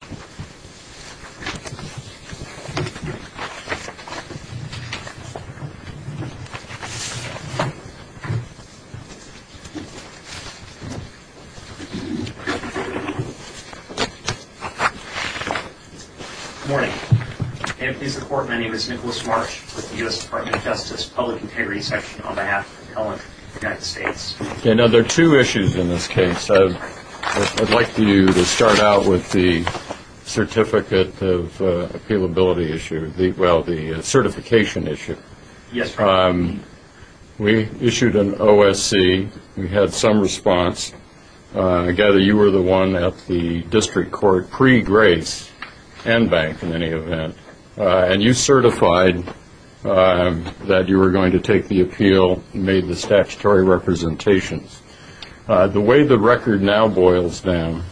Good morning. I am pleased to report my name is Nicholas Marsh with the U.S. Department of Justice Public Integrity Section on behalf of the government of the United States. There are two issues in this case. I would like you to start out with the certificate of appealability issue, well the certification issue. We issued an OSC. We had some response. I gather you were the one at the district court pre-grace and bank in any event. And you certified that you were going to take the appeal, made the statutory representations. The way the record now boils down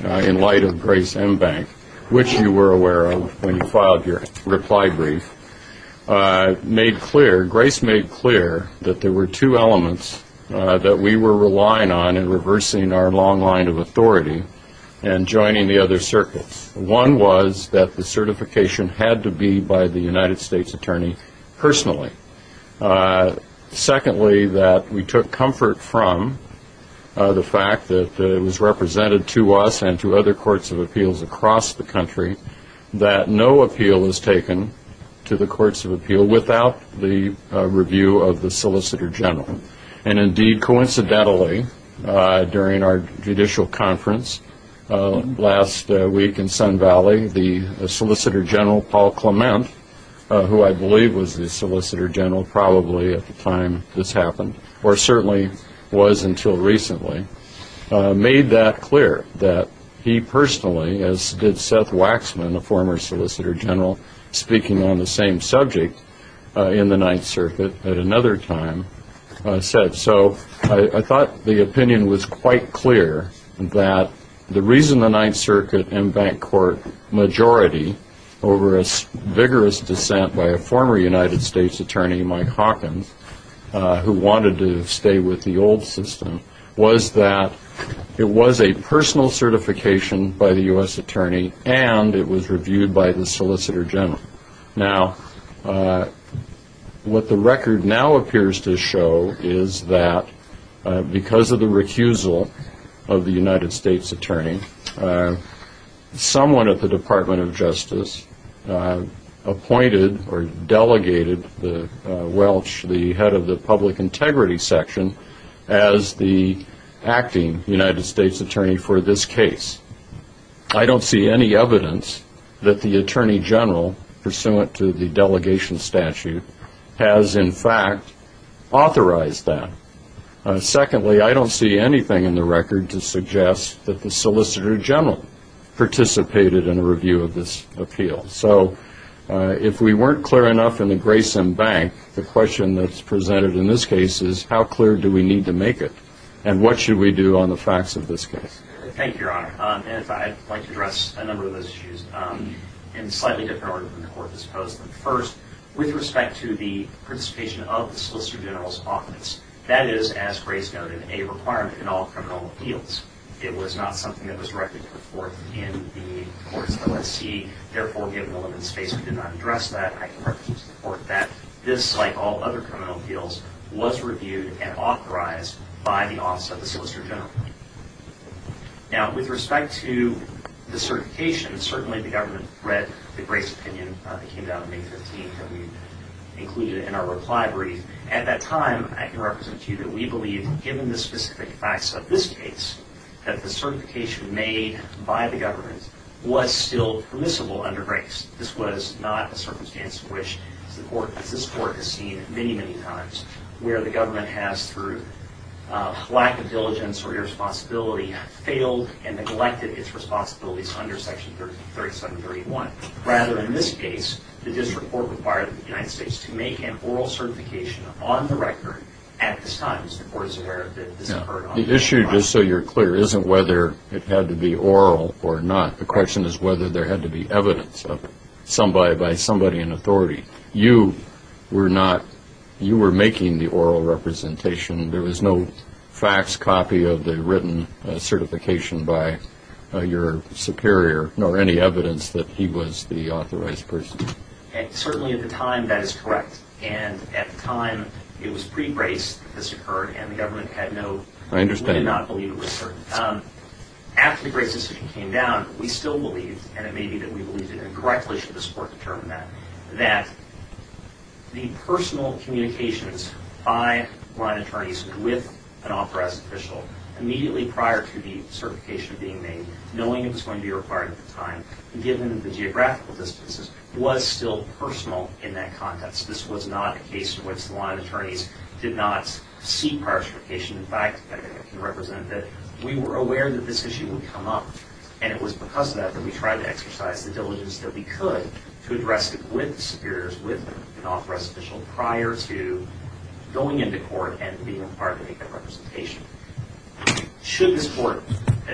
in light of grace and bank, which you were aware of when you filed your reply brief, made clear, grace made clear that there were two elements that we were relying on in reversing our long line of authority and joining the other circuits. One was that the certification had to be by the United States attorney personally. Secondly, that we took comfort from the fact that it was represented to us and to other courts of appeals across the country that no appeal was taken to the courts of appeal without the review of the solicitor general. And indeed, coincidentally, during our judicial conference last week in Sun Valley, the solicitor general, Paul Clement, who I believe was the solicitor general probably at the time this happened, or certainly was until recently, made that clear that he personally, as did Seth Waxman, a former solicitor general, speaking on the same subject in the Ninth Circuit at another time, said so. I thought the opinion was quite clear that the reason the Ninth Circuit and bank court majority over a vigorous dissent by a former United States attorney, Mike Hawkins, who wanted to stay with the old system, was that it was a personal certification by the U.S. attorney and it was reviewed by the solicitor general. Now, what the record now appears to show is that because of the recusal of the United States attorney, someone at the Department of Justice appointed or delegated the Welch, the head of the public integrity section, as the acting United States attorney for this case. I don't see any evidence that the attorney general, pursuant to the delegation statute, has in fact authorized that. Secondly, I don't see anything in the record to suggest that the solicitor general participated in a review of this appeal. So if we weren't clear enough in the Grayson Bank, the question that's presented in this case is how clear do we need to make it? And what should we do on the facts of this case? Thank you, Your Honor. And if I'd like to address a number of those issues in a slightly different order than the Court has proposed them. First, with respect to the participation of the solicitor general's office, that is, as Grayson noted, a requirement in all criminal appeals. It was not something that was directly put forth in the court's OSC. Therefore, given the limited space, we did not address that. I can reference to the Court that this, like all other criminal appeals, was reviewed and authorized by the office of the solicitor general. Now, with respect to the certification, certainly the government read the Grayson opinion that came down on May 15 that we included in our reply brief. At that time, I can represent to you that we believe, given the specific facts of this case, that the certification made by the government was still permissible under Grayson. This was not a circumstance which this Court has seen many, many times, where the government has, through lack of diligence or irresponsibility, failed and neglected its responsibilities under Section 3731. Rather, in this case, the district court required the United States to make an oral certification on the record at this time. The Court is aware that this occurred on May 15. The issue, just so you're clear, isn't whether it had to be oral or not. The question is whether there had to be evidence of somebody by somebody in authority. You were not, you were making the oral representation. There was no fax copy of the written certification by your superior, nor any evidence that he was the authorized person. Certainly, at the time, that is correct. And at the time, it was pre-Grayson that this occurred, and the government had no, we did not believe it was certain. After the Grayson decision came down, we still believed, and it may be that we believed it incorrectly should this Court determine that, that the personal communications by line attorneys with an authorized official, immediately prior to the certification being made, knowing it was going to be required at the time, given the geographical distances, was still personal in that context. This was not a case in which the line attorneys did not seek prior certification. In fact, I can represent that we were aware that this issue would come up, and it was because of that that we tried to exercise the diligence that we could to address it with the superiors, with an authorized official, prior to going into court and being required to make that representation. Should this Court,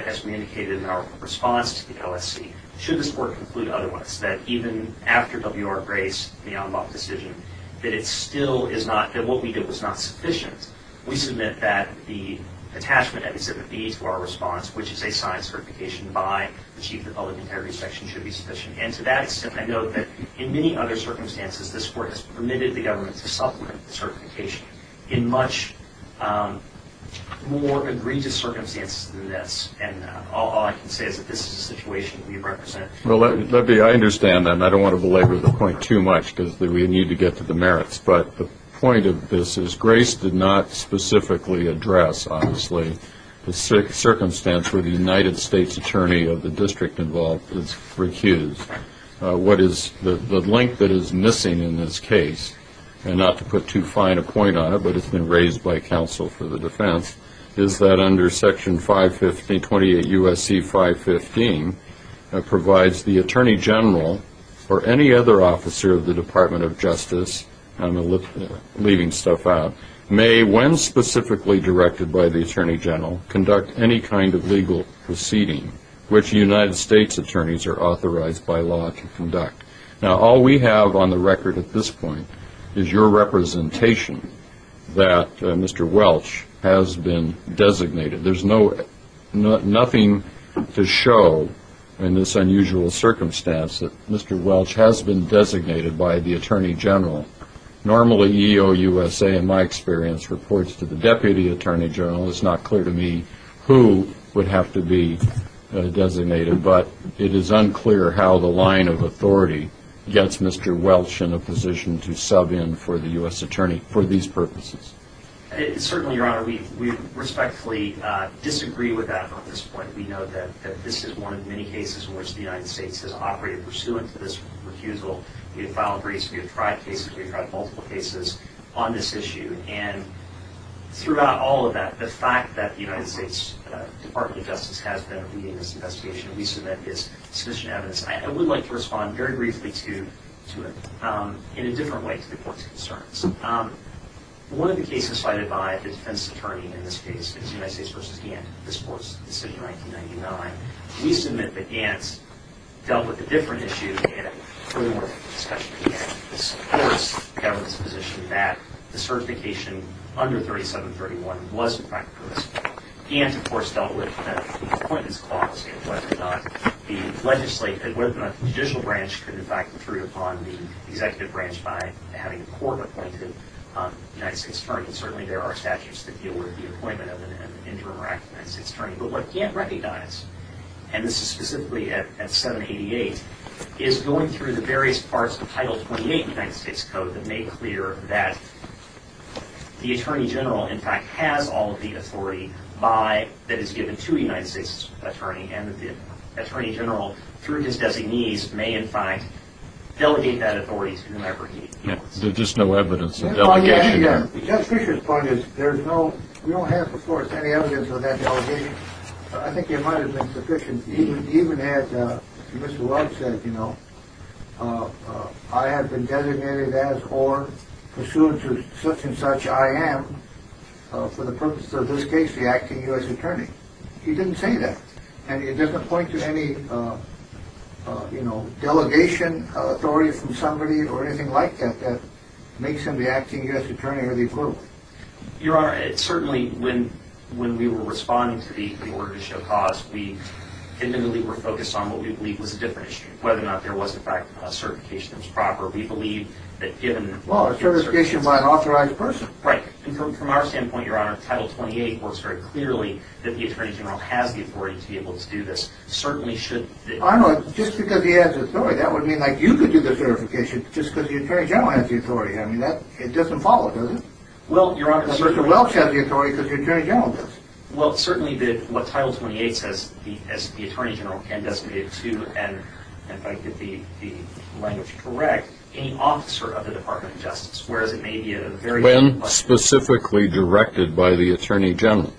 as we indicated in our response to the LSC, should this Court conclude otherwise, that even after W.R. Grayson, the Anbaugh decision, that it still is not, that we submit that the attachment at Mississippi to our response, which is a signed certification by the chief of the public integrity section, should be sufficient. And to that extent, I note that in many other circumstances, this Court has permitted the government to supplement the certification in much more egregious circumstances than this. And all I can say is that this is a situation that we represent. Well, let me, I understand that, and I don't want to belabor the point too much, because obviously we need to get to the merits. But the point of this is, Grace did not specifically address, obviously, the circumstance where the United States attorney of the district involved is recused. What is the link that is missing in this case, and not to put too fine a point on it, but it's been raised by counsel for the defense, is that under Section 515, 28 U.S.C. 515, provides the attorney general or any other officer of the Department of Justice, I'm leaving stuff out, may, when specifically directed by the attorney general, conduct any kind of legal proceeding which United States attorneys are authorized by law to conduct. Now, all we have on the record at this point is your representation that Mr. Welch has been designated. There's nothing to show in this unusual circumstance that Mr. Welch has been designated by the attorney general. Normally EOUSA, in my experience, reports to the deputy attorney general. It's not clear to me who would have to be designated, but it is unclear how the line of authority gets Mr. Welch in a position to sub in for the U.S. attorney for these purposes. Certainly, Your Honor, we respectfully disagree with that on this point. We know that this is one of many cases in which the United States has operated pursuant to this refusal. We have filed briefs, we have tried cases, we have tried multiple cases on this issue, and throughout all of that, the fact that the United States Department of Justice has been leading this investigation, we submit is sufficient evidence. I would like to respond very briefly to it in a different way to the Court's concerns. One of the cases cited by the defense attorney in this case is United States v. Gantt, this Court's decision in 1999. We submit that Gantt dealt with a different issue in a earlier discussion with Gantt. This Court's government position that the certification under 3731 was in fact provisional. Gantt, of course, dealt with the Appointments Clause and whether or not the judicial branch could, in fact, intrude upon the executive branch by having a court-appointed United States attorney. Certainly, there are statutes that deal with the appointment of an interim or active United States attorney. But what Gantt recognized, and this is specifically at 788, is going through the various parts of Title 28 of the United States Code that made clear that the United States attorney and the attorney general, through his designees, may, in fact, delegate that authority to whomever he wants. There's just no evidence of delegation there. Judge Fischer's point is there's no, we don't have, of course, any evidence of that delegation. I think it might have been sufficient, even as Mr. Welch said, you know, I have been designated as, or pursuant to such and such, I am, for the purpose of this case, the acting U.S. attorney. He didn't say that. And it doesn't point to any, you know, delegation authority from somebody or anything like that that makes him the acting U.S. attorney or the equivalent. Your Honor, certainly when we were responding to the Order to Show Cause, we intimately were focused on what we believed was a different issue, whether or not there was, in fact, a certification that was proper. We believe that given... Well, a certification by an authorized person. Right. And from our standpoint, Your Honor, Title 28 works very clearly that the attorney general has the authority to be able to do this. Certainly should... I know, just because he has authority, that would mean like you could do the certification, just because the attorney general has the authority. I mean, that, it doesn't follow, does it? Well, Your Honor... Mr. Welch has the authority because the attorney general does. Well, certainly what Title 28 says, the attorney general can designate to, and if I get the language correct, any officer of the Department of Justice, whereas it may be a very... When specifically directed by the attorney general.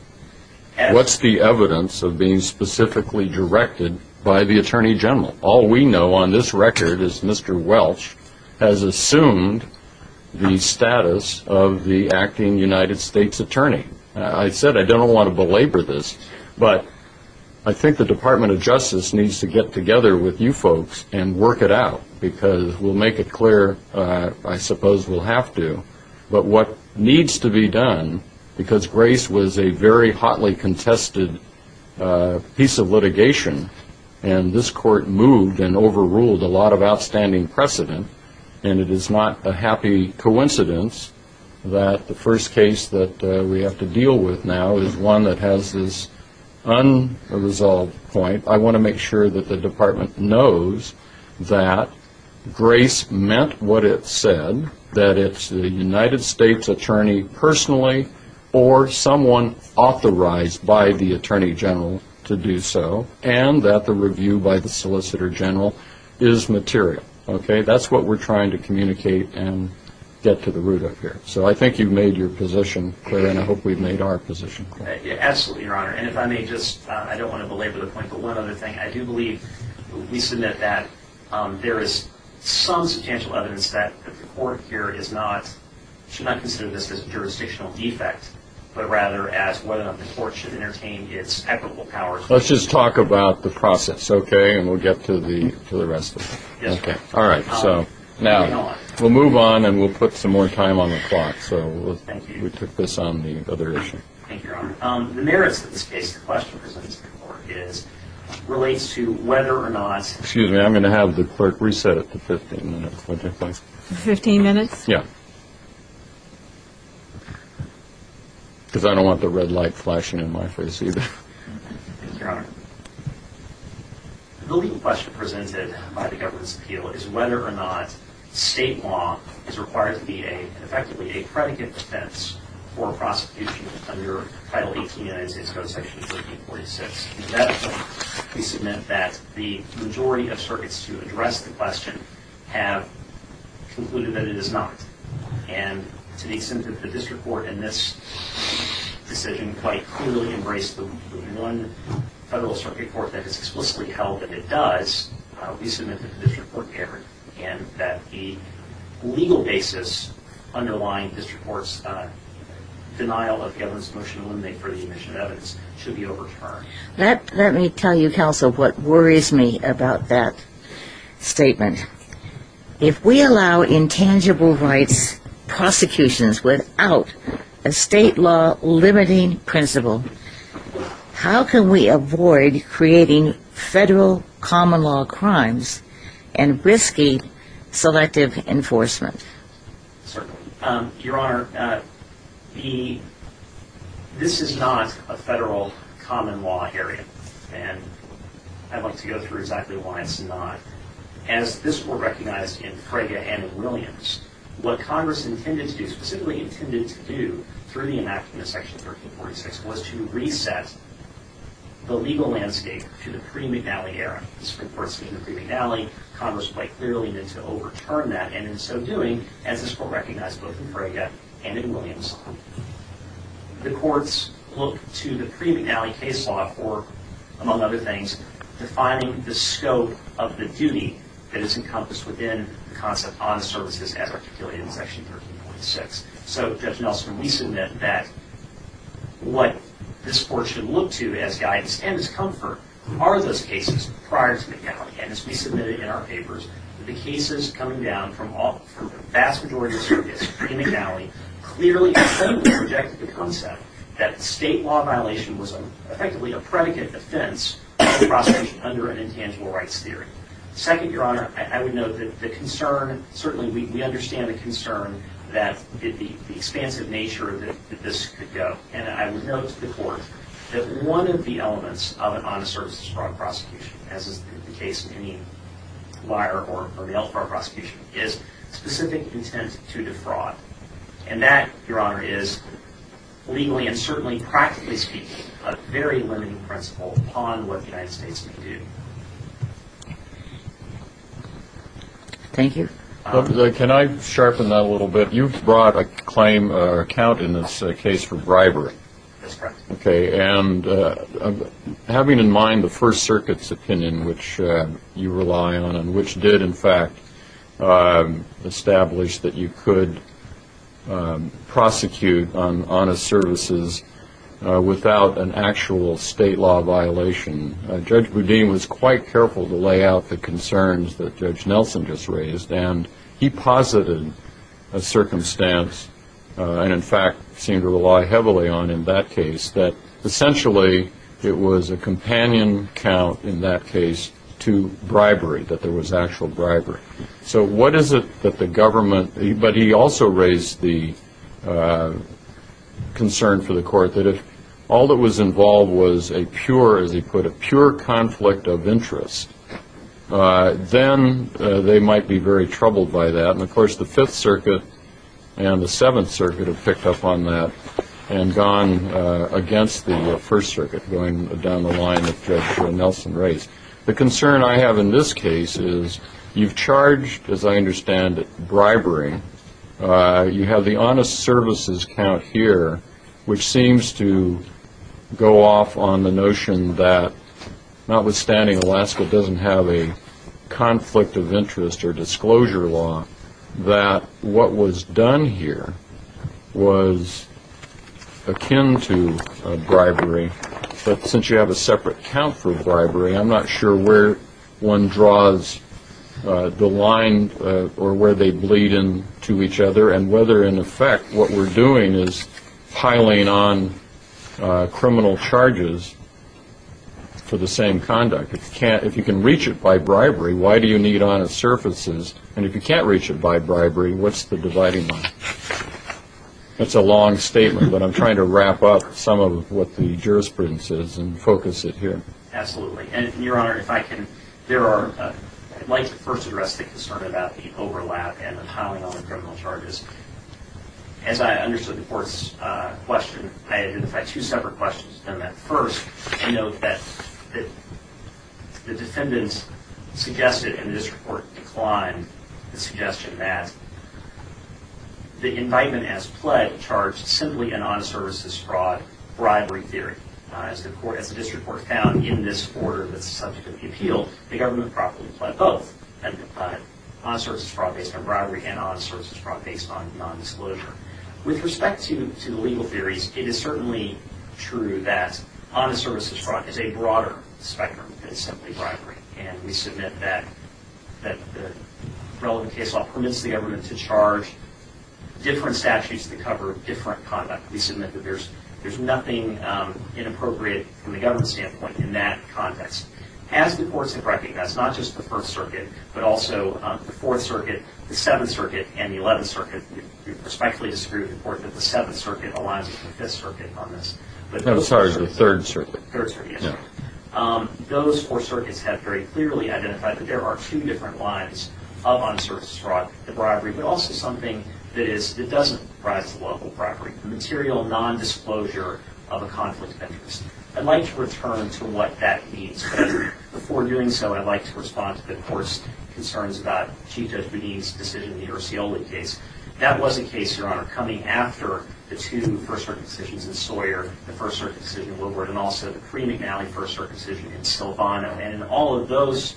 What's the evidence of being specifically directed by the attorney general? All we know on this record is Mr. Welch has assumed the status of the acting United States attorney. I said I don't want to belabor this, but I think the Department of Justice needs to get together with you folks and work it out, because we'll make it clear, I suppose we'll have to. But what needs to be done, because Grace was a very hotly contested piece of litigation, and this court moved and overruled a lot of outstanding precedent, and it is not a happy coincidence that the first case that we have to deal with now is one that has this unresolved point. I want to make sure that the department knows that Grace meant what it said, that it's the United States attorney personally or someone authorized by the attorney general to do so, and that the review by the solicitor general is material. Okay? That's what we're trying to communicate and get to the root of here. So I think you've made your position clear, and I hope we've made our position clear. Absolutely, Your Honor. And if I may just, I don't want to belabor the point, but one other thing. I do believe, we submit that there is some substantial evidence that the court here is not, should not consider this as a jurisdictional defect, but rather as whether or not the court should entertain its equitable powers. Let's just talk about the process, okay, and we'll get to the rest of it. Okay. All right. So now we'll move on, and we'll put some more time on the clock. So we took this on the other issue. Thank you, Your Honor. The merits of this case, the question presented to the court is, relates to whether or not Excuse me, I'm going to have the clerk reset it to 15 minutes. 15 minutes? Yeah. Because I don't want the red light flashing in my face either. Thank you, Your Honor. The legal question presented by the government's appeal is whether or not state law is required to be effectively a predicate defense for prosecution under Title 18 of the United States Code, Section 1346. In that case, we submit that the majority of circuits to address the question have concluded that it is not. And to the extent that the district court in this decision quite clearly embraced the one federal circuit court that has explicitly held that it does, we submit that the district court can, and that the legal basis underlying district court's denial of government's motion to eliminate for the admission of evidence should be overturned. Let me tell you, counsel, what worries me about that statement. If we allow intangible rights prosecutions without a state law limiting principle, how can we avoid creating federal common law crimes and risky selective enforcement? Certainly. Your Honor, this is not a federal common law area, and I'd like to go through exactly why it's not. As this Court recognized in Frege and in Williams, what Congress intended to do, specifically intended to do, through the enactment of Section 1346, was to reset the legal landscape to the pre-McNally era. District courts in the pre-McNally, Congress quite clearly needed to overturn that, and in so doing, as this Court recognized both in Frege and in Williams, the courts look to the pre-McNally case law for, among other things, defining the scope of the duty that is encompassed within the concept on the services as articulated in Section 1346. So, Judge Nelson, we submit that what this Court should look to as guidance and as comfort are those cases prior to McNally. And as we submitted in our papers, the cases coming down from the vast majority of the districts pre-McNally clearly rejected the concept that state law violation was effectively a predicate defense of prosecution under an intangible rights theory. Second, Your Honor, I would note that the concern, certainly we understand the concern that the expansive nature of this could go, and I would note to the Court that one of the elements of an honest services fraud prosecution, as is the case of any liar or And that, Your Honor, is legally and certainly practically speaking a very limiting principle upon what the United States can do. Thank you. Can I sharpen that a little bit? You've brought a claim or account in this case for bribery. That's correct. Okay. And having in mind the First Circuit's opinion, which you rely on, and which did, in fact, establish that you could prosecute on honest services without an actual state law violation, Judge Boudin was quite careful to lay out the concerns that Judge Nelson just raised. And he posited a circumstance, and in fact seemed to rely heavily on in that case, that essentially it was a companion count in that case to bribery, that there was actual bribery. So what is it that the government, but he also raised the concern for the Court that if all that was involved was a pure, as he put it, pure conflict of interest, then they might be very troubled by that. And, of course, the Fifth Circuit and the Seventh Circuit have picked up on that and gone against the First Circuit, going down the line of Judge Nelson raised. The concern I have in this case is you've charged, as I understand it, bribery. You have the honest services count here, which seems to go off on the notion that, notwithstanding Alaska doesn't have a conflict of interest or disclosure law, that what was done here was akin to bribery. But since you have a separate count for bribery, I'm not sure where one draws the line or where they bleed into each other and whether, in effect, what we're doing is piling on criminal charges for the same conduct. If you can reach it by bribery, why do you need honest services? And if you can't reach it by bribery, what's the dividing line? That's a long statement, but I'm trying to wrap up some of what the jurisprudence is and focus it here. Absolutely. And, Your Honor, if I can, I'd like to first address the concern about the overlap and the piling on the criminal charges. As I understood the Court's question, I identified two separate questions. I note that the defendants suggested, and the District Court declined the suggestion, that the indictment as pledged charged simply an honest services fraud bribery theory. As the District Court found in this order that's the subject of the appeal, the government properly pled both an honest services fraud based on bribery and honest services fraud based on non-disclosure. With respect to the legal theories, it is certainly true that honest services fraud is a broader spectrum than simply bribery, and we submit that the relevant case law permits the government to charge different statutes that cover different conduct. We submit that there's nothing inappropriate from the government standpoint in that context. As the courts have recognized, not just the First Circuit, but also the Fourth Circuit, the Seventh Circuit, and the Eleventh Circuit. We respectfully disagree with the Court that the Seventh Circuit aligns with the Fifth Circuit on this. I'm sorry, it's the Third Circuit. Third Circuit, yes. Those four circuits have very clearly identified that there are two different lines of honest services fraud, the bribery, but also something that doesn't rise to the level of bribery, the material non-disclosure of a conflict of interest. I'd like to return to what that means, but before doing so, I'd like to respond to the Court's concerns about Chief Judge Boudin's decision in the Urscioli case. That was a case, Your Honor, coming after the two First Circuit decisions in Sawyer, the First Circuit decision in Woodward, and also the pre-McNally First Circuit decision in Silvano. And in all of those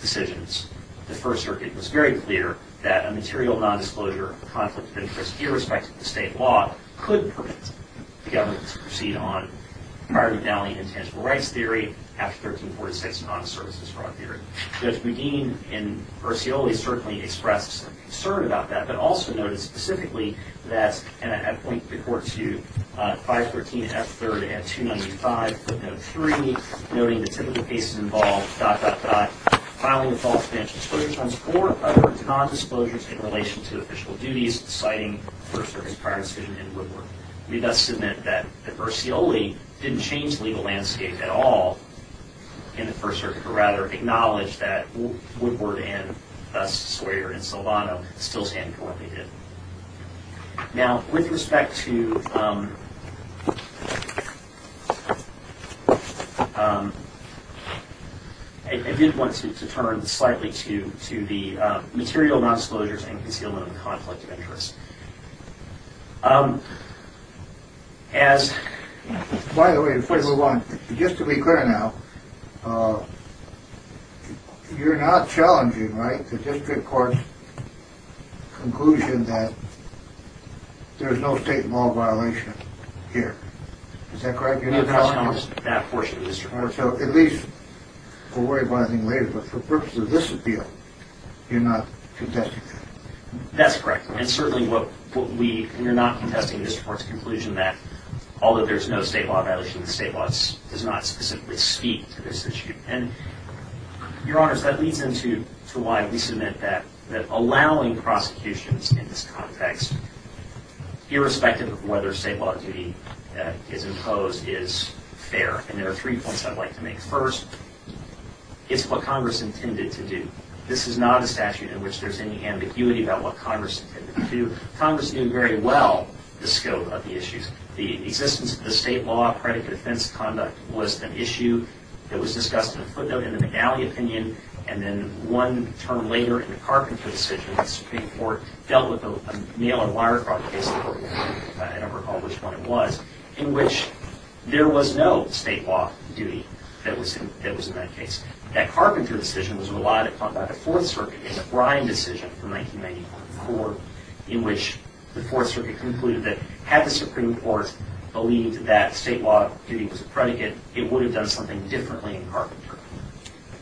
decisions, the First Circuit was very clear that a material non-disclosure of a conflict of interest, irrespective of the state law, could permit the government to proceed on prior to McNally, intangible rights theory, after 1346, honest services fraud theory. Judge Boudin, in Urscioli, certainly expressed some concern about that, but also noted specifically that, and I point the Court to 513 F. 3rd and 295 footnote 3, noting the typical cases involved, dot, dot, dot, filing of false financial disclosures, or other non-disclosures in relation to official duties, citing First Circuit's prior decision in Woodward. We thus submit that Urscioli didn't change legal landscape at all in the First Circuit, but rather acknowledged that Woodward and us, Sawyer and Silvano, still stand for what they did. Now, with respect to – I did want to turn slightly to the material non-disclosures and concealment of conflict of interest. As – By the way, before you move on, just to be clear now, you're not challenging, right, the district court's conclusion that there's no state law violation here, is that correct? No, that's not that portion of the district. All right, so at least we'll worry about it later, but for purposes of this appeal, you're not contesting that? That's correct. And certainly what we – we're not contesting the district court's conclusion that, although there's no state law violation, the state law does not specifically speak to this issue. And, Your Honors, that leads into why we submit that allowing prosecutions in this context, irrespective of whether state law duty is imposed, is fair. And there are three points I'd like to make. First, it's what Congress intended to do. This is not a statute in which there's any ambiguity about what Congress intended to do. Congress knew very well the scope of the issues. The existence of the state law credit defense conduct was an issue that was discussed in a footnote in the McNally opinion, and then one term later in the Carpenter decision, the Supreme Court dealt with a nail-and-wire crime case, I don't recall which one it was, in which there was no state law duty that was in that case. That Carpenter decision was relied upon by the Fourth Circuit in the Bryan decision from 1994, in which the Fourth Circuit concluded that had the Supreme Court believed that state law duty was a predicate, it would have done something differently in Carpenter.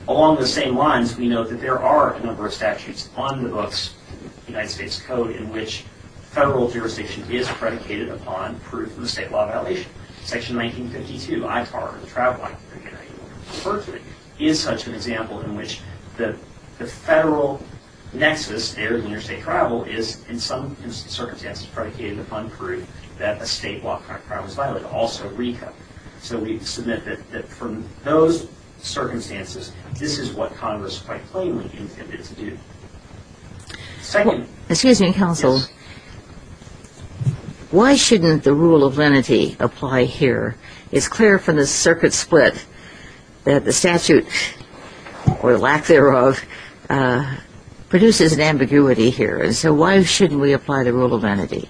Along those same lines, we note that there are a number of statutes on the books of the United States Code in which federal jurisdiction is predicated upon proof of a state law violation. Section 1952, ITAR, the Travel Act of the United States, is such an example in which the federal nexus there, interstate travel, is in some circumstances predicated upon proof that a state law crime was violated, also RECA. So we submit that from those circumstances, this is what Congress quite plainly intended to do. Second. Excuse me, Counsel. Why shouldn't the rule of lenity apply here? It's clear from the circuit split that the statute, or lack thereof, produces an ambiguity here. And so why shouldn't we apply the rule of lenity?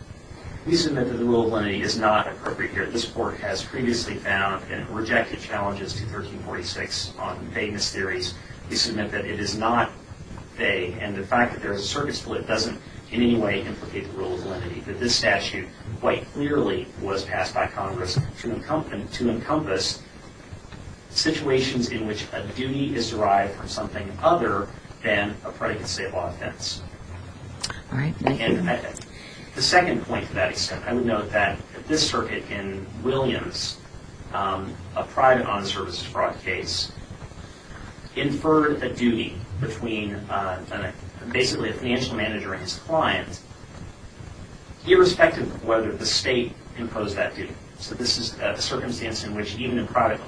We submit that the rule of lenity is not appropriate here. This Court has previously found and rejected challenges to 1346 on famous theories. We submit that it is not a, and the fact that there is a circuit split doesn't in any way implicate the rule of lenity, that this statute quite clearly was passed by Congress to encompass situations in which a duty is derived from something other than a predicated state law offense. All right. Thank you. The second point to that extent, I would note that this circuit in Williams, a private honest services fraud case, inferred a duty between basically a financial manager and his client, irrespective of whether the state imposed that duty. So this is a circumstance in which even in private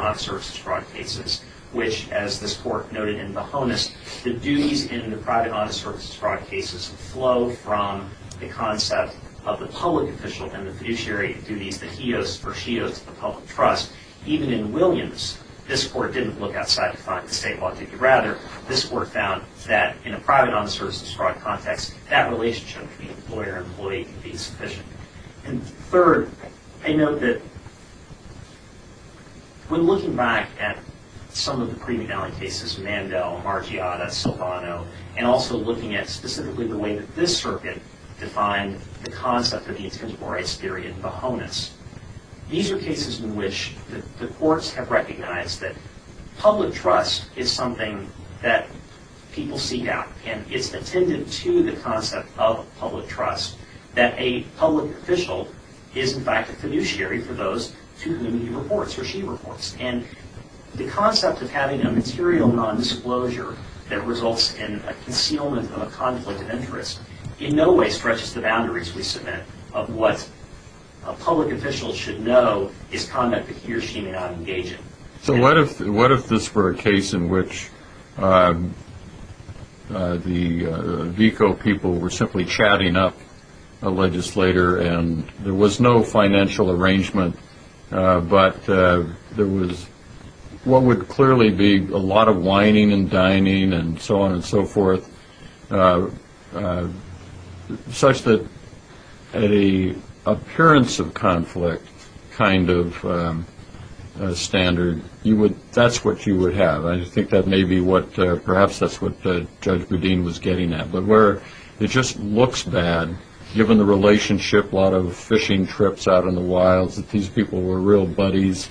honest services fraud cases, which as this Court noted in Bohonas, the duties in the private honest services fraud cases flow from the concept of the public official and the fiduciary duties that he owes or she owes to the public trust. Even in Williams, this Court didn't look outside to find the state law duty. Rather, this Court found that in a private honest services fraud context, that relationship between employer and employee can be insufficient. And third, I note that when looking back at some of the pre-McNally cases, Mandel, Margiotta, Silvano, and also looking at specifically the way that this circuit defined the concept of the intimidation theory in Bohonas, these are cases in which the courts have recognized that public trust is something that people seek out. And it's attended to the concept of public trust that a public official is in fact a fiduciary for those to whom he reports or she reports. And the concept of having a material nondisclosure that results in a concealment of a conflict of interest in no way stretches the boundaries, we submit, of what a public official should know is conduct that he or she may not engage in. So what if this were a case in which the VICO people were simply chatting up a legislator and there was no financial arrangement, but there was what would clearly be a lot of whining and dining and so on and so forth such that at an appearance of conflict kind of standard, that's what you would have. I think that may be what perhaps that's what Judge Boudin was getting at. But where it just looks bad, given the relationship, a lot of fishing trips out in the wild, that these people were real buddies,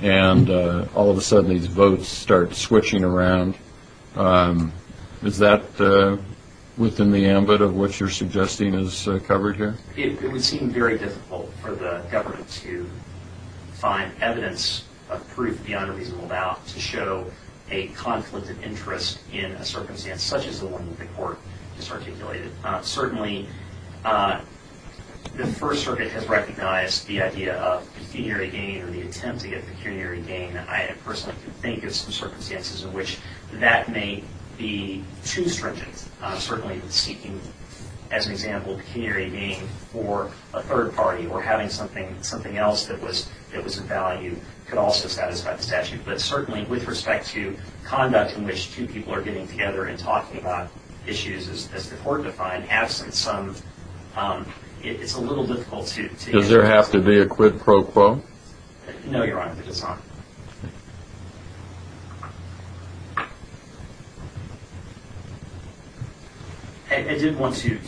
and all of a sudden these votes start switching around, is that within the ambit of what you're suggesting is covered here? It would seem very difficult for the government to find evidence of proof beyond a reasonable doubt to show a conflict of interest in a circumstance such as the one that the Court just articulated. Certainly the First Circuit has recognized the idea of pecuniary gain or the attempt to get pecuniary gain. I personally can think of some circumstances in which that may be too stringent. Certainly seeking, as an example, pecuniary gain for a third party or having something else that was of value could also satisfy the statute. But certainly with respect to conduct in which two people are getting together and talking about issues as the Court defined, absent some, it's a little difficult to answer. Does there have to be a quid pro quo? No, Your Honor, there does not. I did want to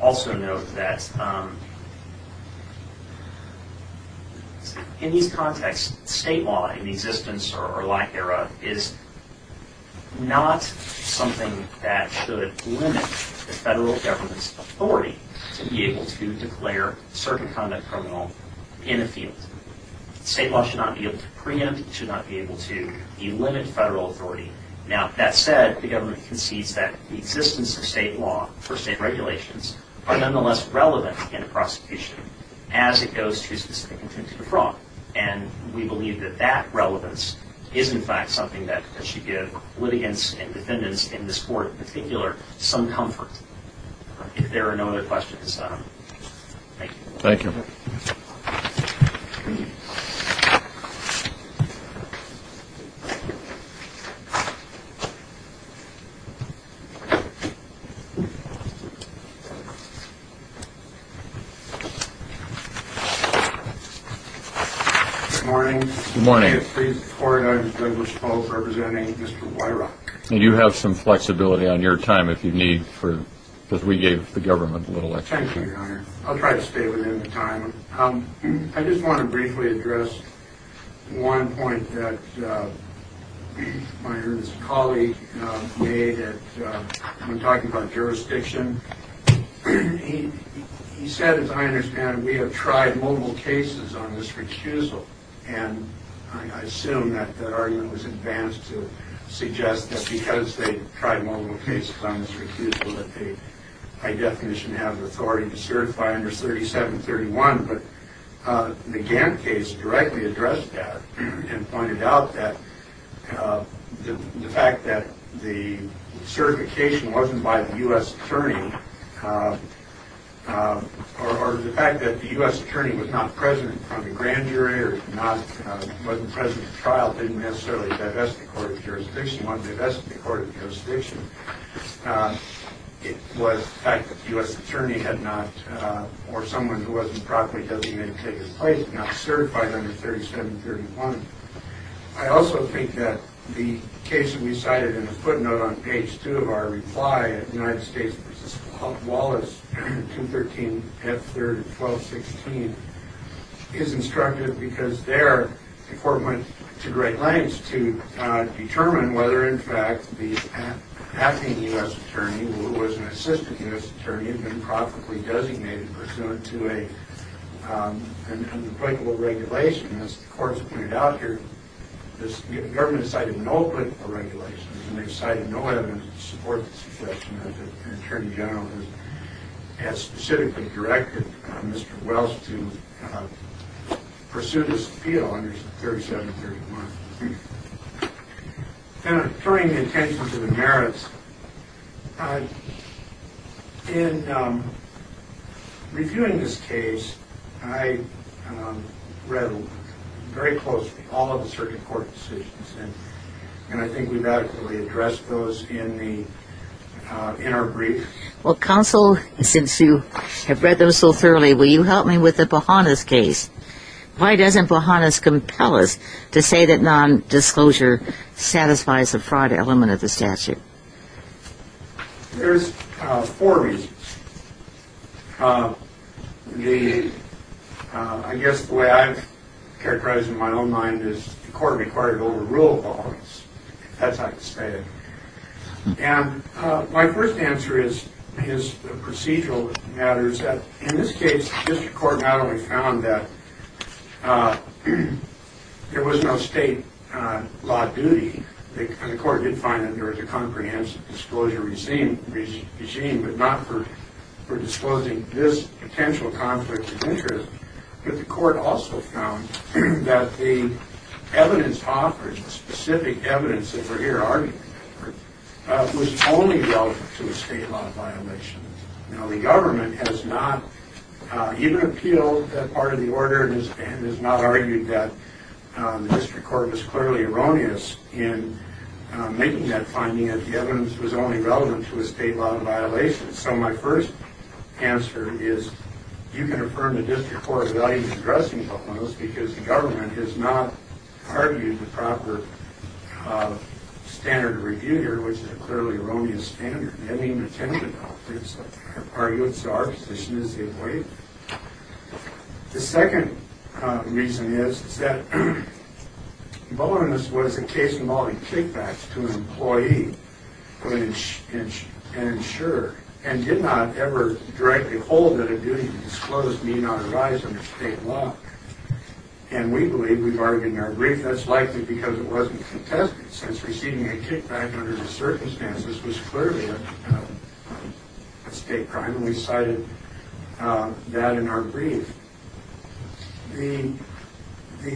also note that in these contexts, state law in existence or lack thereof is not something that should limit the federal government's authority to be able to declare a certain conduct criminal in a field. State law should not be able to preempt. It should not be able to limit federal authority. Now, that said, the government concedes that the existence of state law for state regulations are nonetheless relevant in a prosecution as it goes to specific intent to defraud. And we believe that that relevance is in fact something that should give litigants and defendants in this Court in particular some comfort. If there are no other questions at this time, thank you. Thank you. Good morning. Good morning. I'm Douglas Pope representing Mr. Weirach. And you have some flexibility on your time if you need, because we gave the government a little extra. Thank you, Your Honor. I'll try to stay within the time. I just want to briefly address one point that my earlier colleague made when talking about jurisdiction. He said, as I understand it, we have tried multiple cases on this recusal. And I assume that that argument was advanced to suggest that because they tried multiple cases on this recusal, that they, by definition, have authority to certify under 3731. But the Gantt case directly addressed that and pointed out that the fact that the certification wasn't by the U.S. attorney or the fact that the U.S. attorney was not present on the grand jury or wasn't present at trial didn't necessarily divest the Court of Jurisdiction. It wanted to divest the Court of Jurisdiction. It was the fact that the U.S. attorney had not, or someone who wasn't properly designated to take his place, had not certified under 3731. I also think that the case that we cited in the footnote on page 2 of our reply, United States v. Wallace, 213 F. 3rd and 1216, is instructive because there the Court went to great lengths to determine whether, in fact, the acting U.S. attorney, who was an assistant U.S. attorney, had been properly designated pursuant to an unbreakable regulation. As the Court has pointed out here, the government cited no unbreakable regulation and they cited no evidence to support the suggestion that an attorney general had specifically directed Mr. Wallace to pursue this appeal under 3731. Turning the attention to the merits, in reviewing this case, I read very closely all of the circuit court decisions, and I think we've adequately addressed those in our brief. Well, counsel, since you have read them so thoroughly, will you help me with the Bohannes case? Why doesn't Bohannes compel us to say that nondisclosure satisfies the fraud element of the statute? There's four reasons. I guess the way I've characterized it in my own mind is the Court required overruled Bohannes. That's how I'd describe it. And my first answer is procedural matters. In this case, the district court not only found that there was no state law duty, and the Court did find that there was a comprehensive disclosure regime, but not for disclosing this potential conflict of interest, but the Court also found that the evidence offered, the specific evidence that we're here arguing for, was only relevant to a state law violation. Now, the government has not even appealed that part of the order and has not argued that the district court was clearly erroneous in making that finding that the evidence was only relevant to a state law violation. So my first answer is you can affirm the district court values addressing Bohannes because the government has not argued the proper standard of review here, which is a clearly erroneous standard. They didn't even attend the conference. They've argued, so our position is they've waived it. The second reason is that Bohannes was a case involving kickbacks to an employee who had been insured and did not ever directly hold that a duty to disclose need not arise under state law. And we believe, we've argued in our brief, that's likely because it wasn't contested since receiving a kickback under the circumstances was clearly a state crime, and we cited that in our brief. The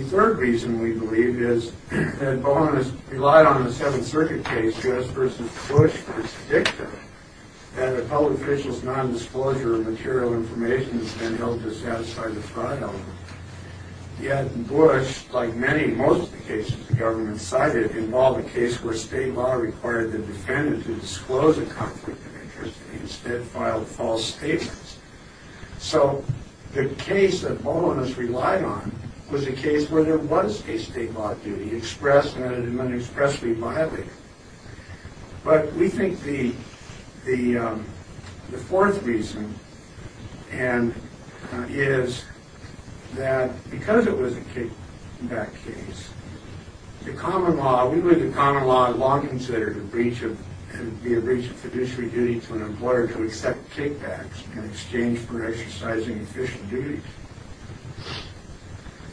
third reason, we believe, is that Bohannes relied on the Seventh Circuit case, U.S. v. Bush v. Dicta, that a public official's nondisclosure of material information has been held to satisfy the fraud element. Yet Bush, like many, most of the cases the government cited, involved a case where state law required the defendant to disclose a conflict of interest and instead filed false statements. So the case that Bohannes relied on was a case where there was a state law duty expressed and not expressly violated. But we think the fourth reason is that because it was a kickback case, the common law, we believe the common law, law considered a breach of fiduciary duty to an employer to accept kickbacks in exchange for exercising official duties.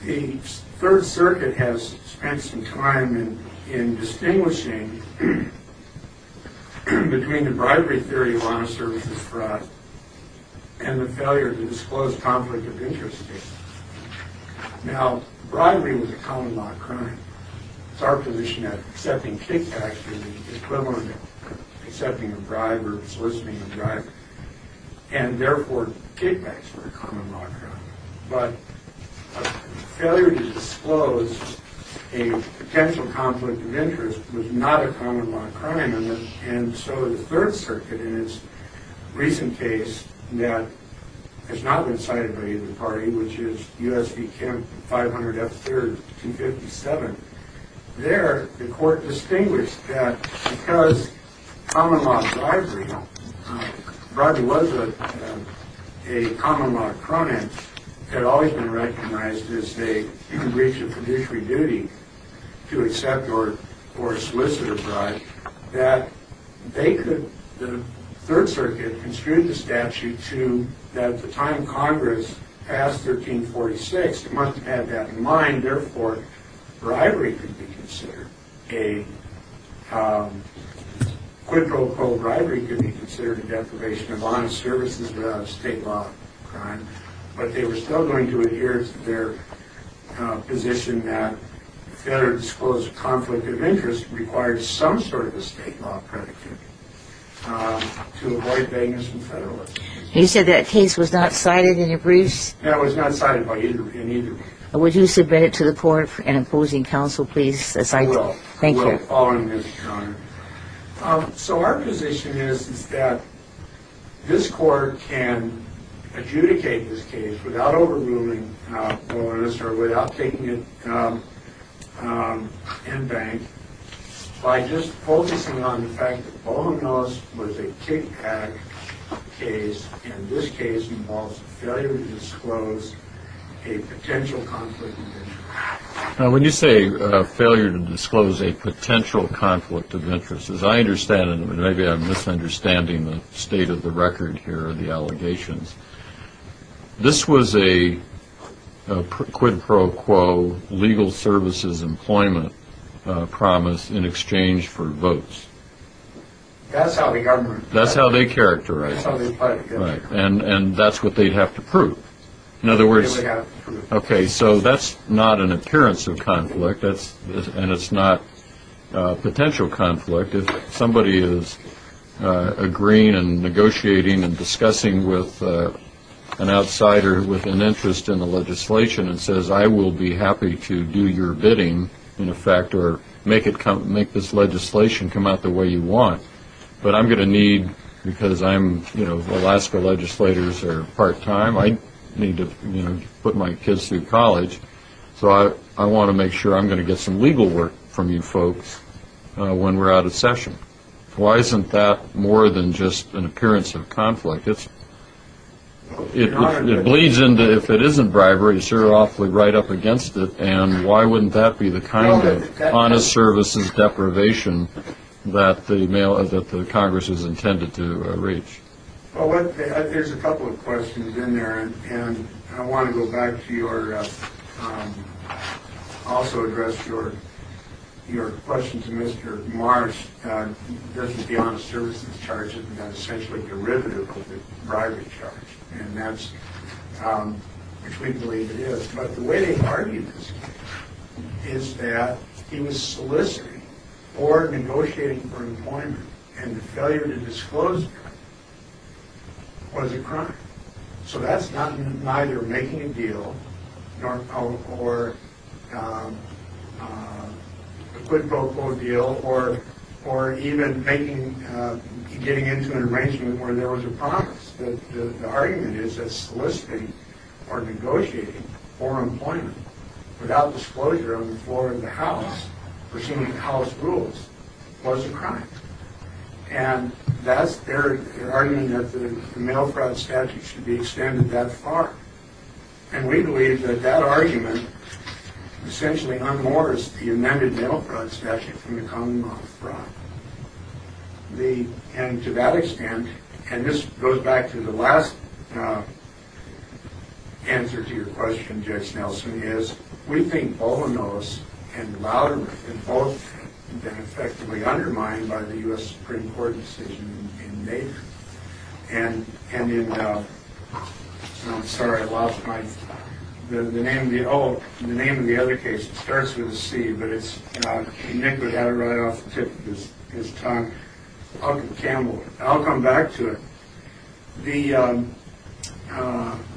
The Third Circuit has spent some time in distinguishing between the bribery theory of honest services fraud and the failure to disclose conflict of interest theory. Now, bribery was a common law crime. It's our position that accepting kickbacks is the equivalent of accepting a bribe or soliciting a bribe, and therefore kickbacks were a common law crime. But a failure to disclose a potential conflict of interest was not a common law crime. And so the Third Circuit in its recent case that has not been cited by either party, which is U.S. v. Kemp 500 F. Third 257, there the court distinguished that because common law bribery was a common law crime, it had always been recognized as a breach of fiduciary duty to accept or solicit a bribe, that they could, the Third Circuit construed the statute to that at the time Congress passed 1346, it must have had that in mind, therefore bribery could be considered. A quid pro quo bribery could be considered a deprivation of honest services without a state law crime, but they were still going to adhere to their position that a failure to disclose a conflict of interest required some sort of a state law predicate to avoid vagueness and federalism. You said that case was not cited in your briefs? No, it was not cited in either brief. Would you submit it to the court for an opposing counsel, please? I will. Thank you. We're following this, Your Honor. So our position is that this court can adjudicate this case without overruling Boehner's or without taking it in bank by just focusing on the fact that Boehner's was a kickback case and this case involves a failure to disclose a potential conflict of interest. Now when you say failure to disclose a potential conflict of interest, as I understand it, and maybe I'm misunderstanding the state of the record here or the allegations, this was a quid pro quo legal services employment promise in exchange for votes. That's how the government does it. That's how they characterize it. That's how they fight against it. And that's what they'd have to prove. In other words, okay, so that's not an appearance of conflict and it's not potential conflict. If somebody is agreeing and negotiating and discussing with an outsider with an interest in the legislation and says, I will be happy to do your bidding, in effect, or make this legislation come out the way you want, I need to put my kids through college, so I want to make sure I'm going to get some legal work from you folks when we're out of session. Why isn't that more than just an appearance of conflict? It bleeds into, if it isn't bribery, it's sort of awfully right up against it and why wouldn't that be the kind of honest services deprivation that the Congress is intended to reach? Well, there's a couple of questions in there, and I want to go back to your also address your question to Mr. Marsh. Doesn't the honest services charge it? That's essentially a derivative of the bribery charge, which we believe it is. But the way they argue this is that he was soliciting or negotiating for employment, and the failure to disclose the crime was a crime. So that's neither making a deal nor a quid pro quo deal or even getting into an arrangement where there was a promise. The argument is that soliciting or negotiating for employment without disclosure on the floor of the House, pursuant to House rules, was a crime. And they're arguing that the mail fraud statute should be extended that far, and we believe that that argument essentially unmoors the amended mail fraud statute from the commonwealth fraud. And to that extent, and this goes back to the last answer to your question, Judge Nelson, is we think all of those, and louder than both, have been effectively undermined by the U.S. Supreme Court decision in May. And in the name of the other case, it starts with a C, but Nick would have it right off the tip of his tongue. I'll come back to it.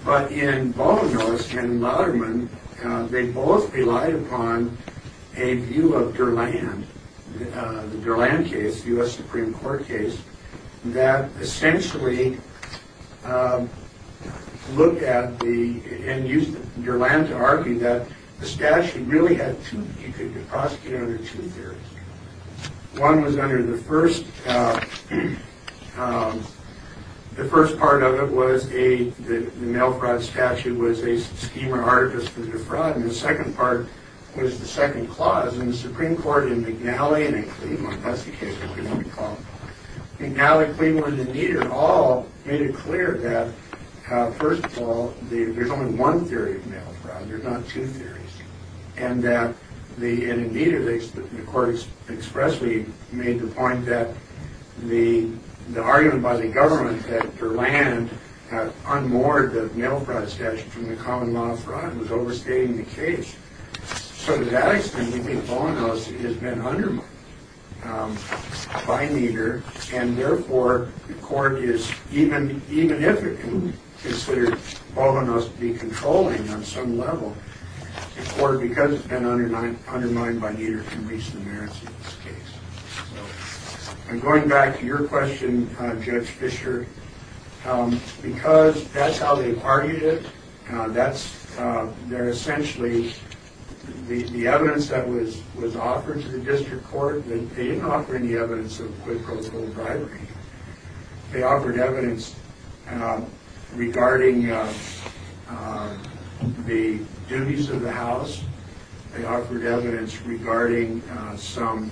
But in Bollinger's and Lotherman, they both relied upon a view of Durland, the Durland case, the U.S. Supreme Court case, that essentially looked at the, and used Durland to argue, that the statute really had two, you could prosecute under two theories. One was under the first, the first part of it was the mail fraud statute was a scheme or artifice for defraud, and the second part was the second clause, and the Supreme Court in McNally and in Cleveland, that's the case I'm going to call it, McNally, Cleveland, and Nieder, all made it clear that, first of all, there's only one theory of mail fraud, there's not two theories, and that, and in Nieder, the court expressly made the point that the argument by the government that Durland unmoored the mail fraud statute from the common law of fraud was overstating the case. So to that extent, we think Bollinger's has been undermined by Nieder, and therefore, the court is, even if it considered Bollinger must be controlling on some level, the court, because it's been undermined by Nieder, can reach the merits of this case. And going back to your question, Judge Fisher, because that's how they argued it, that's, they're essentially, the evidence that was offered to the district court, they didn't offer any evidence of quid pro quo bribery. They offered evidence regarding the duties of the house. They offered evidence regarding some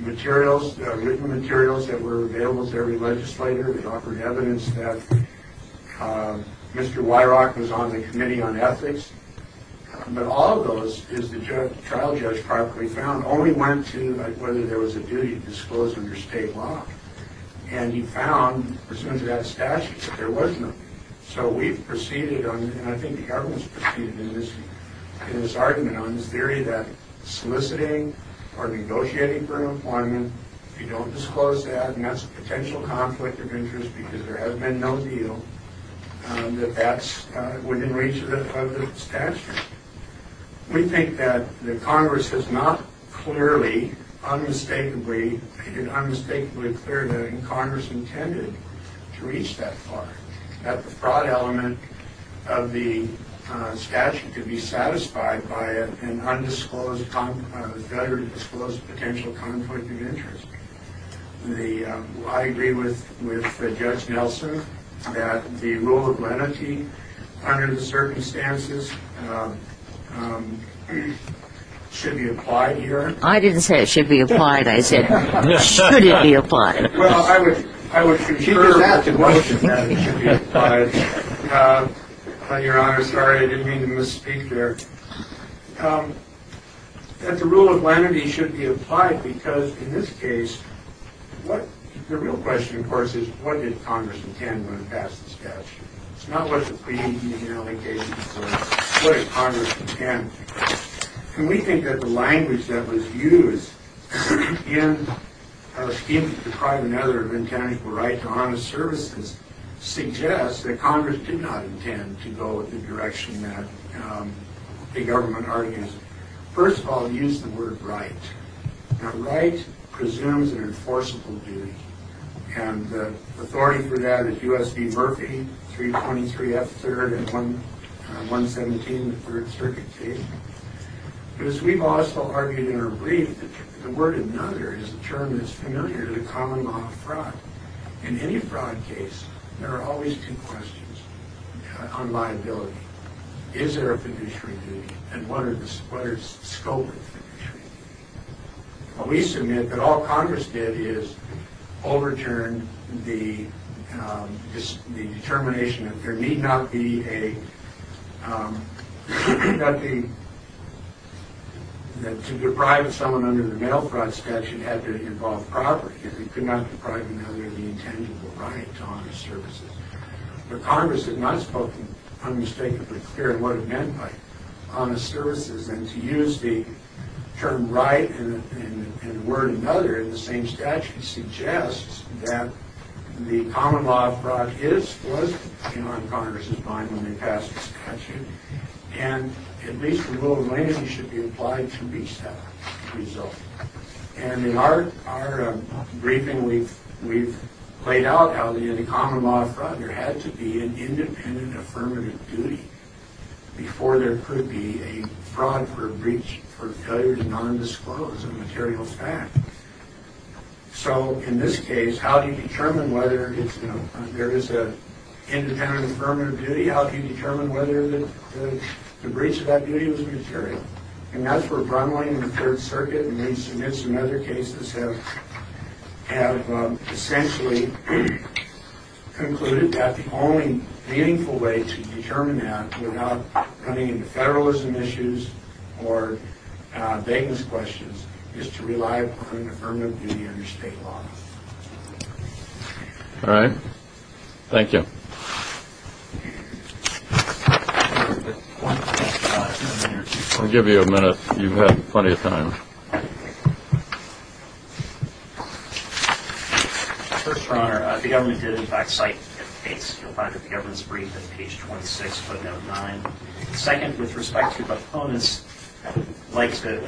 materials, written materials that were available to every legislator. They offered evidence that Mr. Weirach was on the committee on ethics. But all of those, as the trial judge properly found, only went to whether there was a duty disclosed under state law. And he found, presumed to have statutes, that there was none. So we've proceeded on, and I think the government's proceeded in this argument, on this theory that soliciting or negotiating for employment, if you don't disclose that, and that's a potential conflict of interest because there has been no deal, that that's within reach of the statute. We think that the Congress has not clearly, unmistakably, made it unmistakably clear that Congress intended to reach that far, that the fraud element of the statute could be satisfied by an undisclosed, a failure to disclose a potential conflict of interest. The, I agree with Judge Nelson, that the rule of lenity, under the circumstances, should be applied here. I didn't say it should be applied. I said should it be applied. Well, I would concur with the question that it should be applied. Your Honor, sorry, I didn't mean to misspeak there. That the rule of lenity should be applied because, in this case, the real question, of course, is, what did Congress intend when it passed the statute? It's not what the previous allegations were. What did Congress intend? And we think that the language that was used in our scheme to deprive an editor of intangible right to honest services suggests that Congress did not intend to go in the direction that the government argues. First of all, use the word right. Now, right presumes an enforceable duty, and the authority for that is U.S. v. Murphy, 323 F. 3rd and 117, the Third Circuit case. But as we've also argued in our brief, the word another is a term that's familiar to the common law of fraud. In any fraud case, there are always two questions on liability. Is there a fiduciary duty, and what are the scope of fiduciary duty? We submit that all Congress did is overturn the determination that there need not be a, that to deprive someone under the mail fraud statute had to involve property, if it could not deprive another of the intangible right to honest services. But Congress had not spoken unmistakably clear on what it meant by honest services, and to use the term right and the word another in the same statute suggests that the common law of fraud is split, you know, in Congress's mind when they pass this statute, and at least the rule of language should be applied to reach that result. And in our briefing, we've played out how the common law of fraud, there had to be an independent affirmative duty before there could be a fraud for a breach, for failure to non-disclose a material fact. So in this case, how do you determine whether it's, you know, there is an independent affirmative duty, how do you determine whether the breach of that duty was material? And that's where Brumling and the Third Circuit, and we've submitted some other cases, have essentially concluded that the only meaningful way to determine that without running into federalism issues or vagueness questions is to rely upon an affirmative duty under state law. All right. Thank you. I'll give you a minute. You've had plenty of time. First, Your Honor, the government did, in fact, cite a case. You'll find it in the government's brief at page 26, footnote 9. Second, with respect to proponents, I'd like to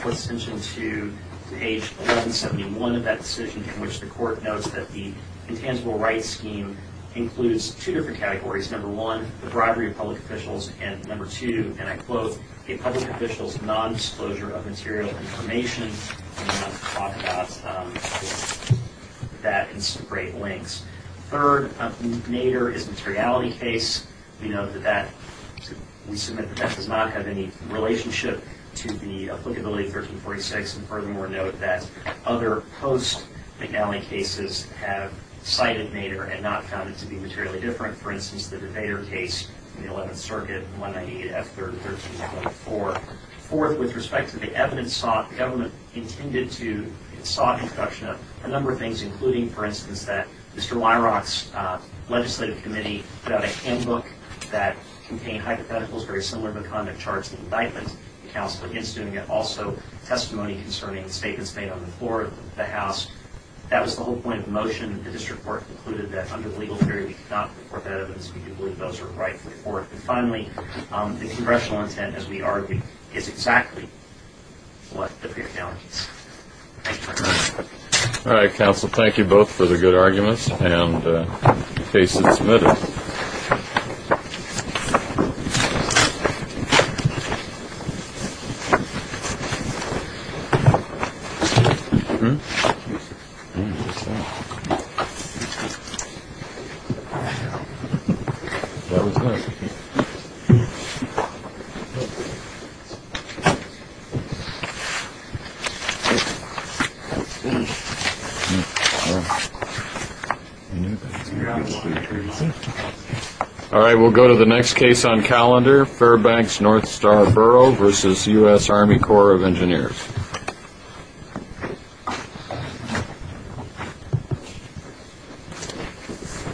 put attention to page 1171 of that decision in which the court notes that the intangible rights scheme includes two different categories. Number one, the bribery of public officials, and number two, and I quote, a public official's nondisclosure of material information. And I'll talk about that in some great lengths. Third, Nader is a materiality case. We know that that, we submit that that does not have any relationship to the applicability of 1346. And furthermore, note that other post-McNally cases have cited Nader and not found it to be materially different. For instance, the Nader case in the 11th Circuit, 198-F3-1324. Fourth, with respect to the evidence sought, the government intended to and sought introduction of a number of things, including, for instance, that Mr. Weirach's legislative committee put out a handbook that contained hypotheticals very similar to the conduct to counsel against doing it. Also, testimony concerning statements made on the floor of the House. That was the whole point of the motion. The district court concluded that under the legal theory, we could not report that evidence. We do believe those are right for the court. And finally, the congressional intent, as we argue, is exactly what the fair challenge is. Thank you very much. All right, counsel. Thank you both for the good arguments, and the case is submitted. Thank you. All right. All right. We'll go to the next case on calendar, Fairbanks-Northstar Borough v. U.S. Army Corps of Engineers.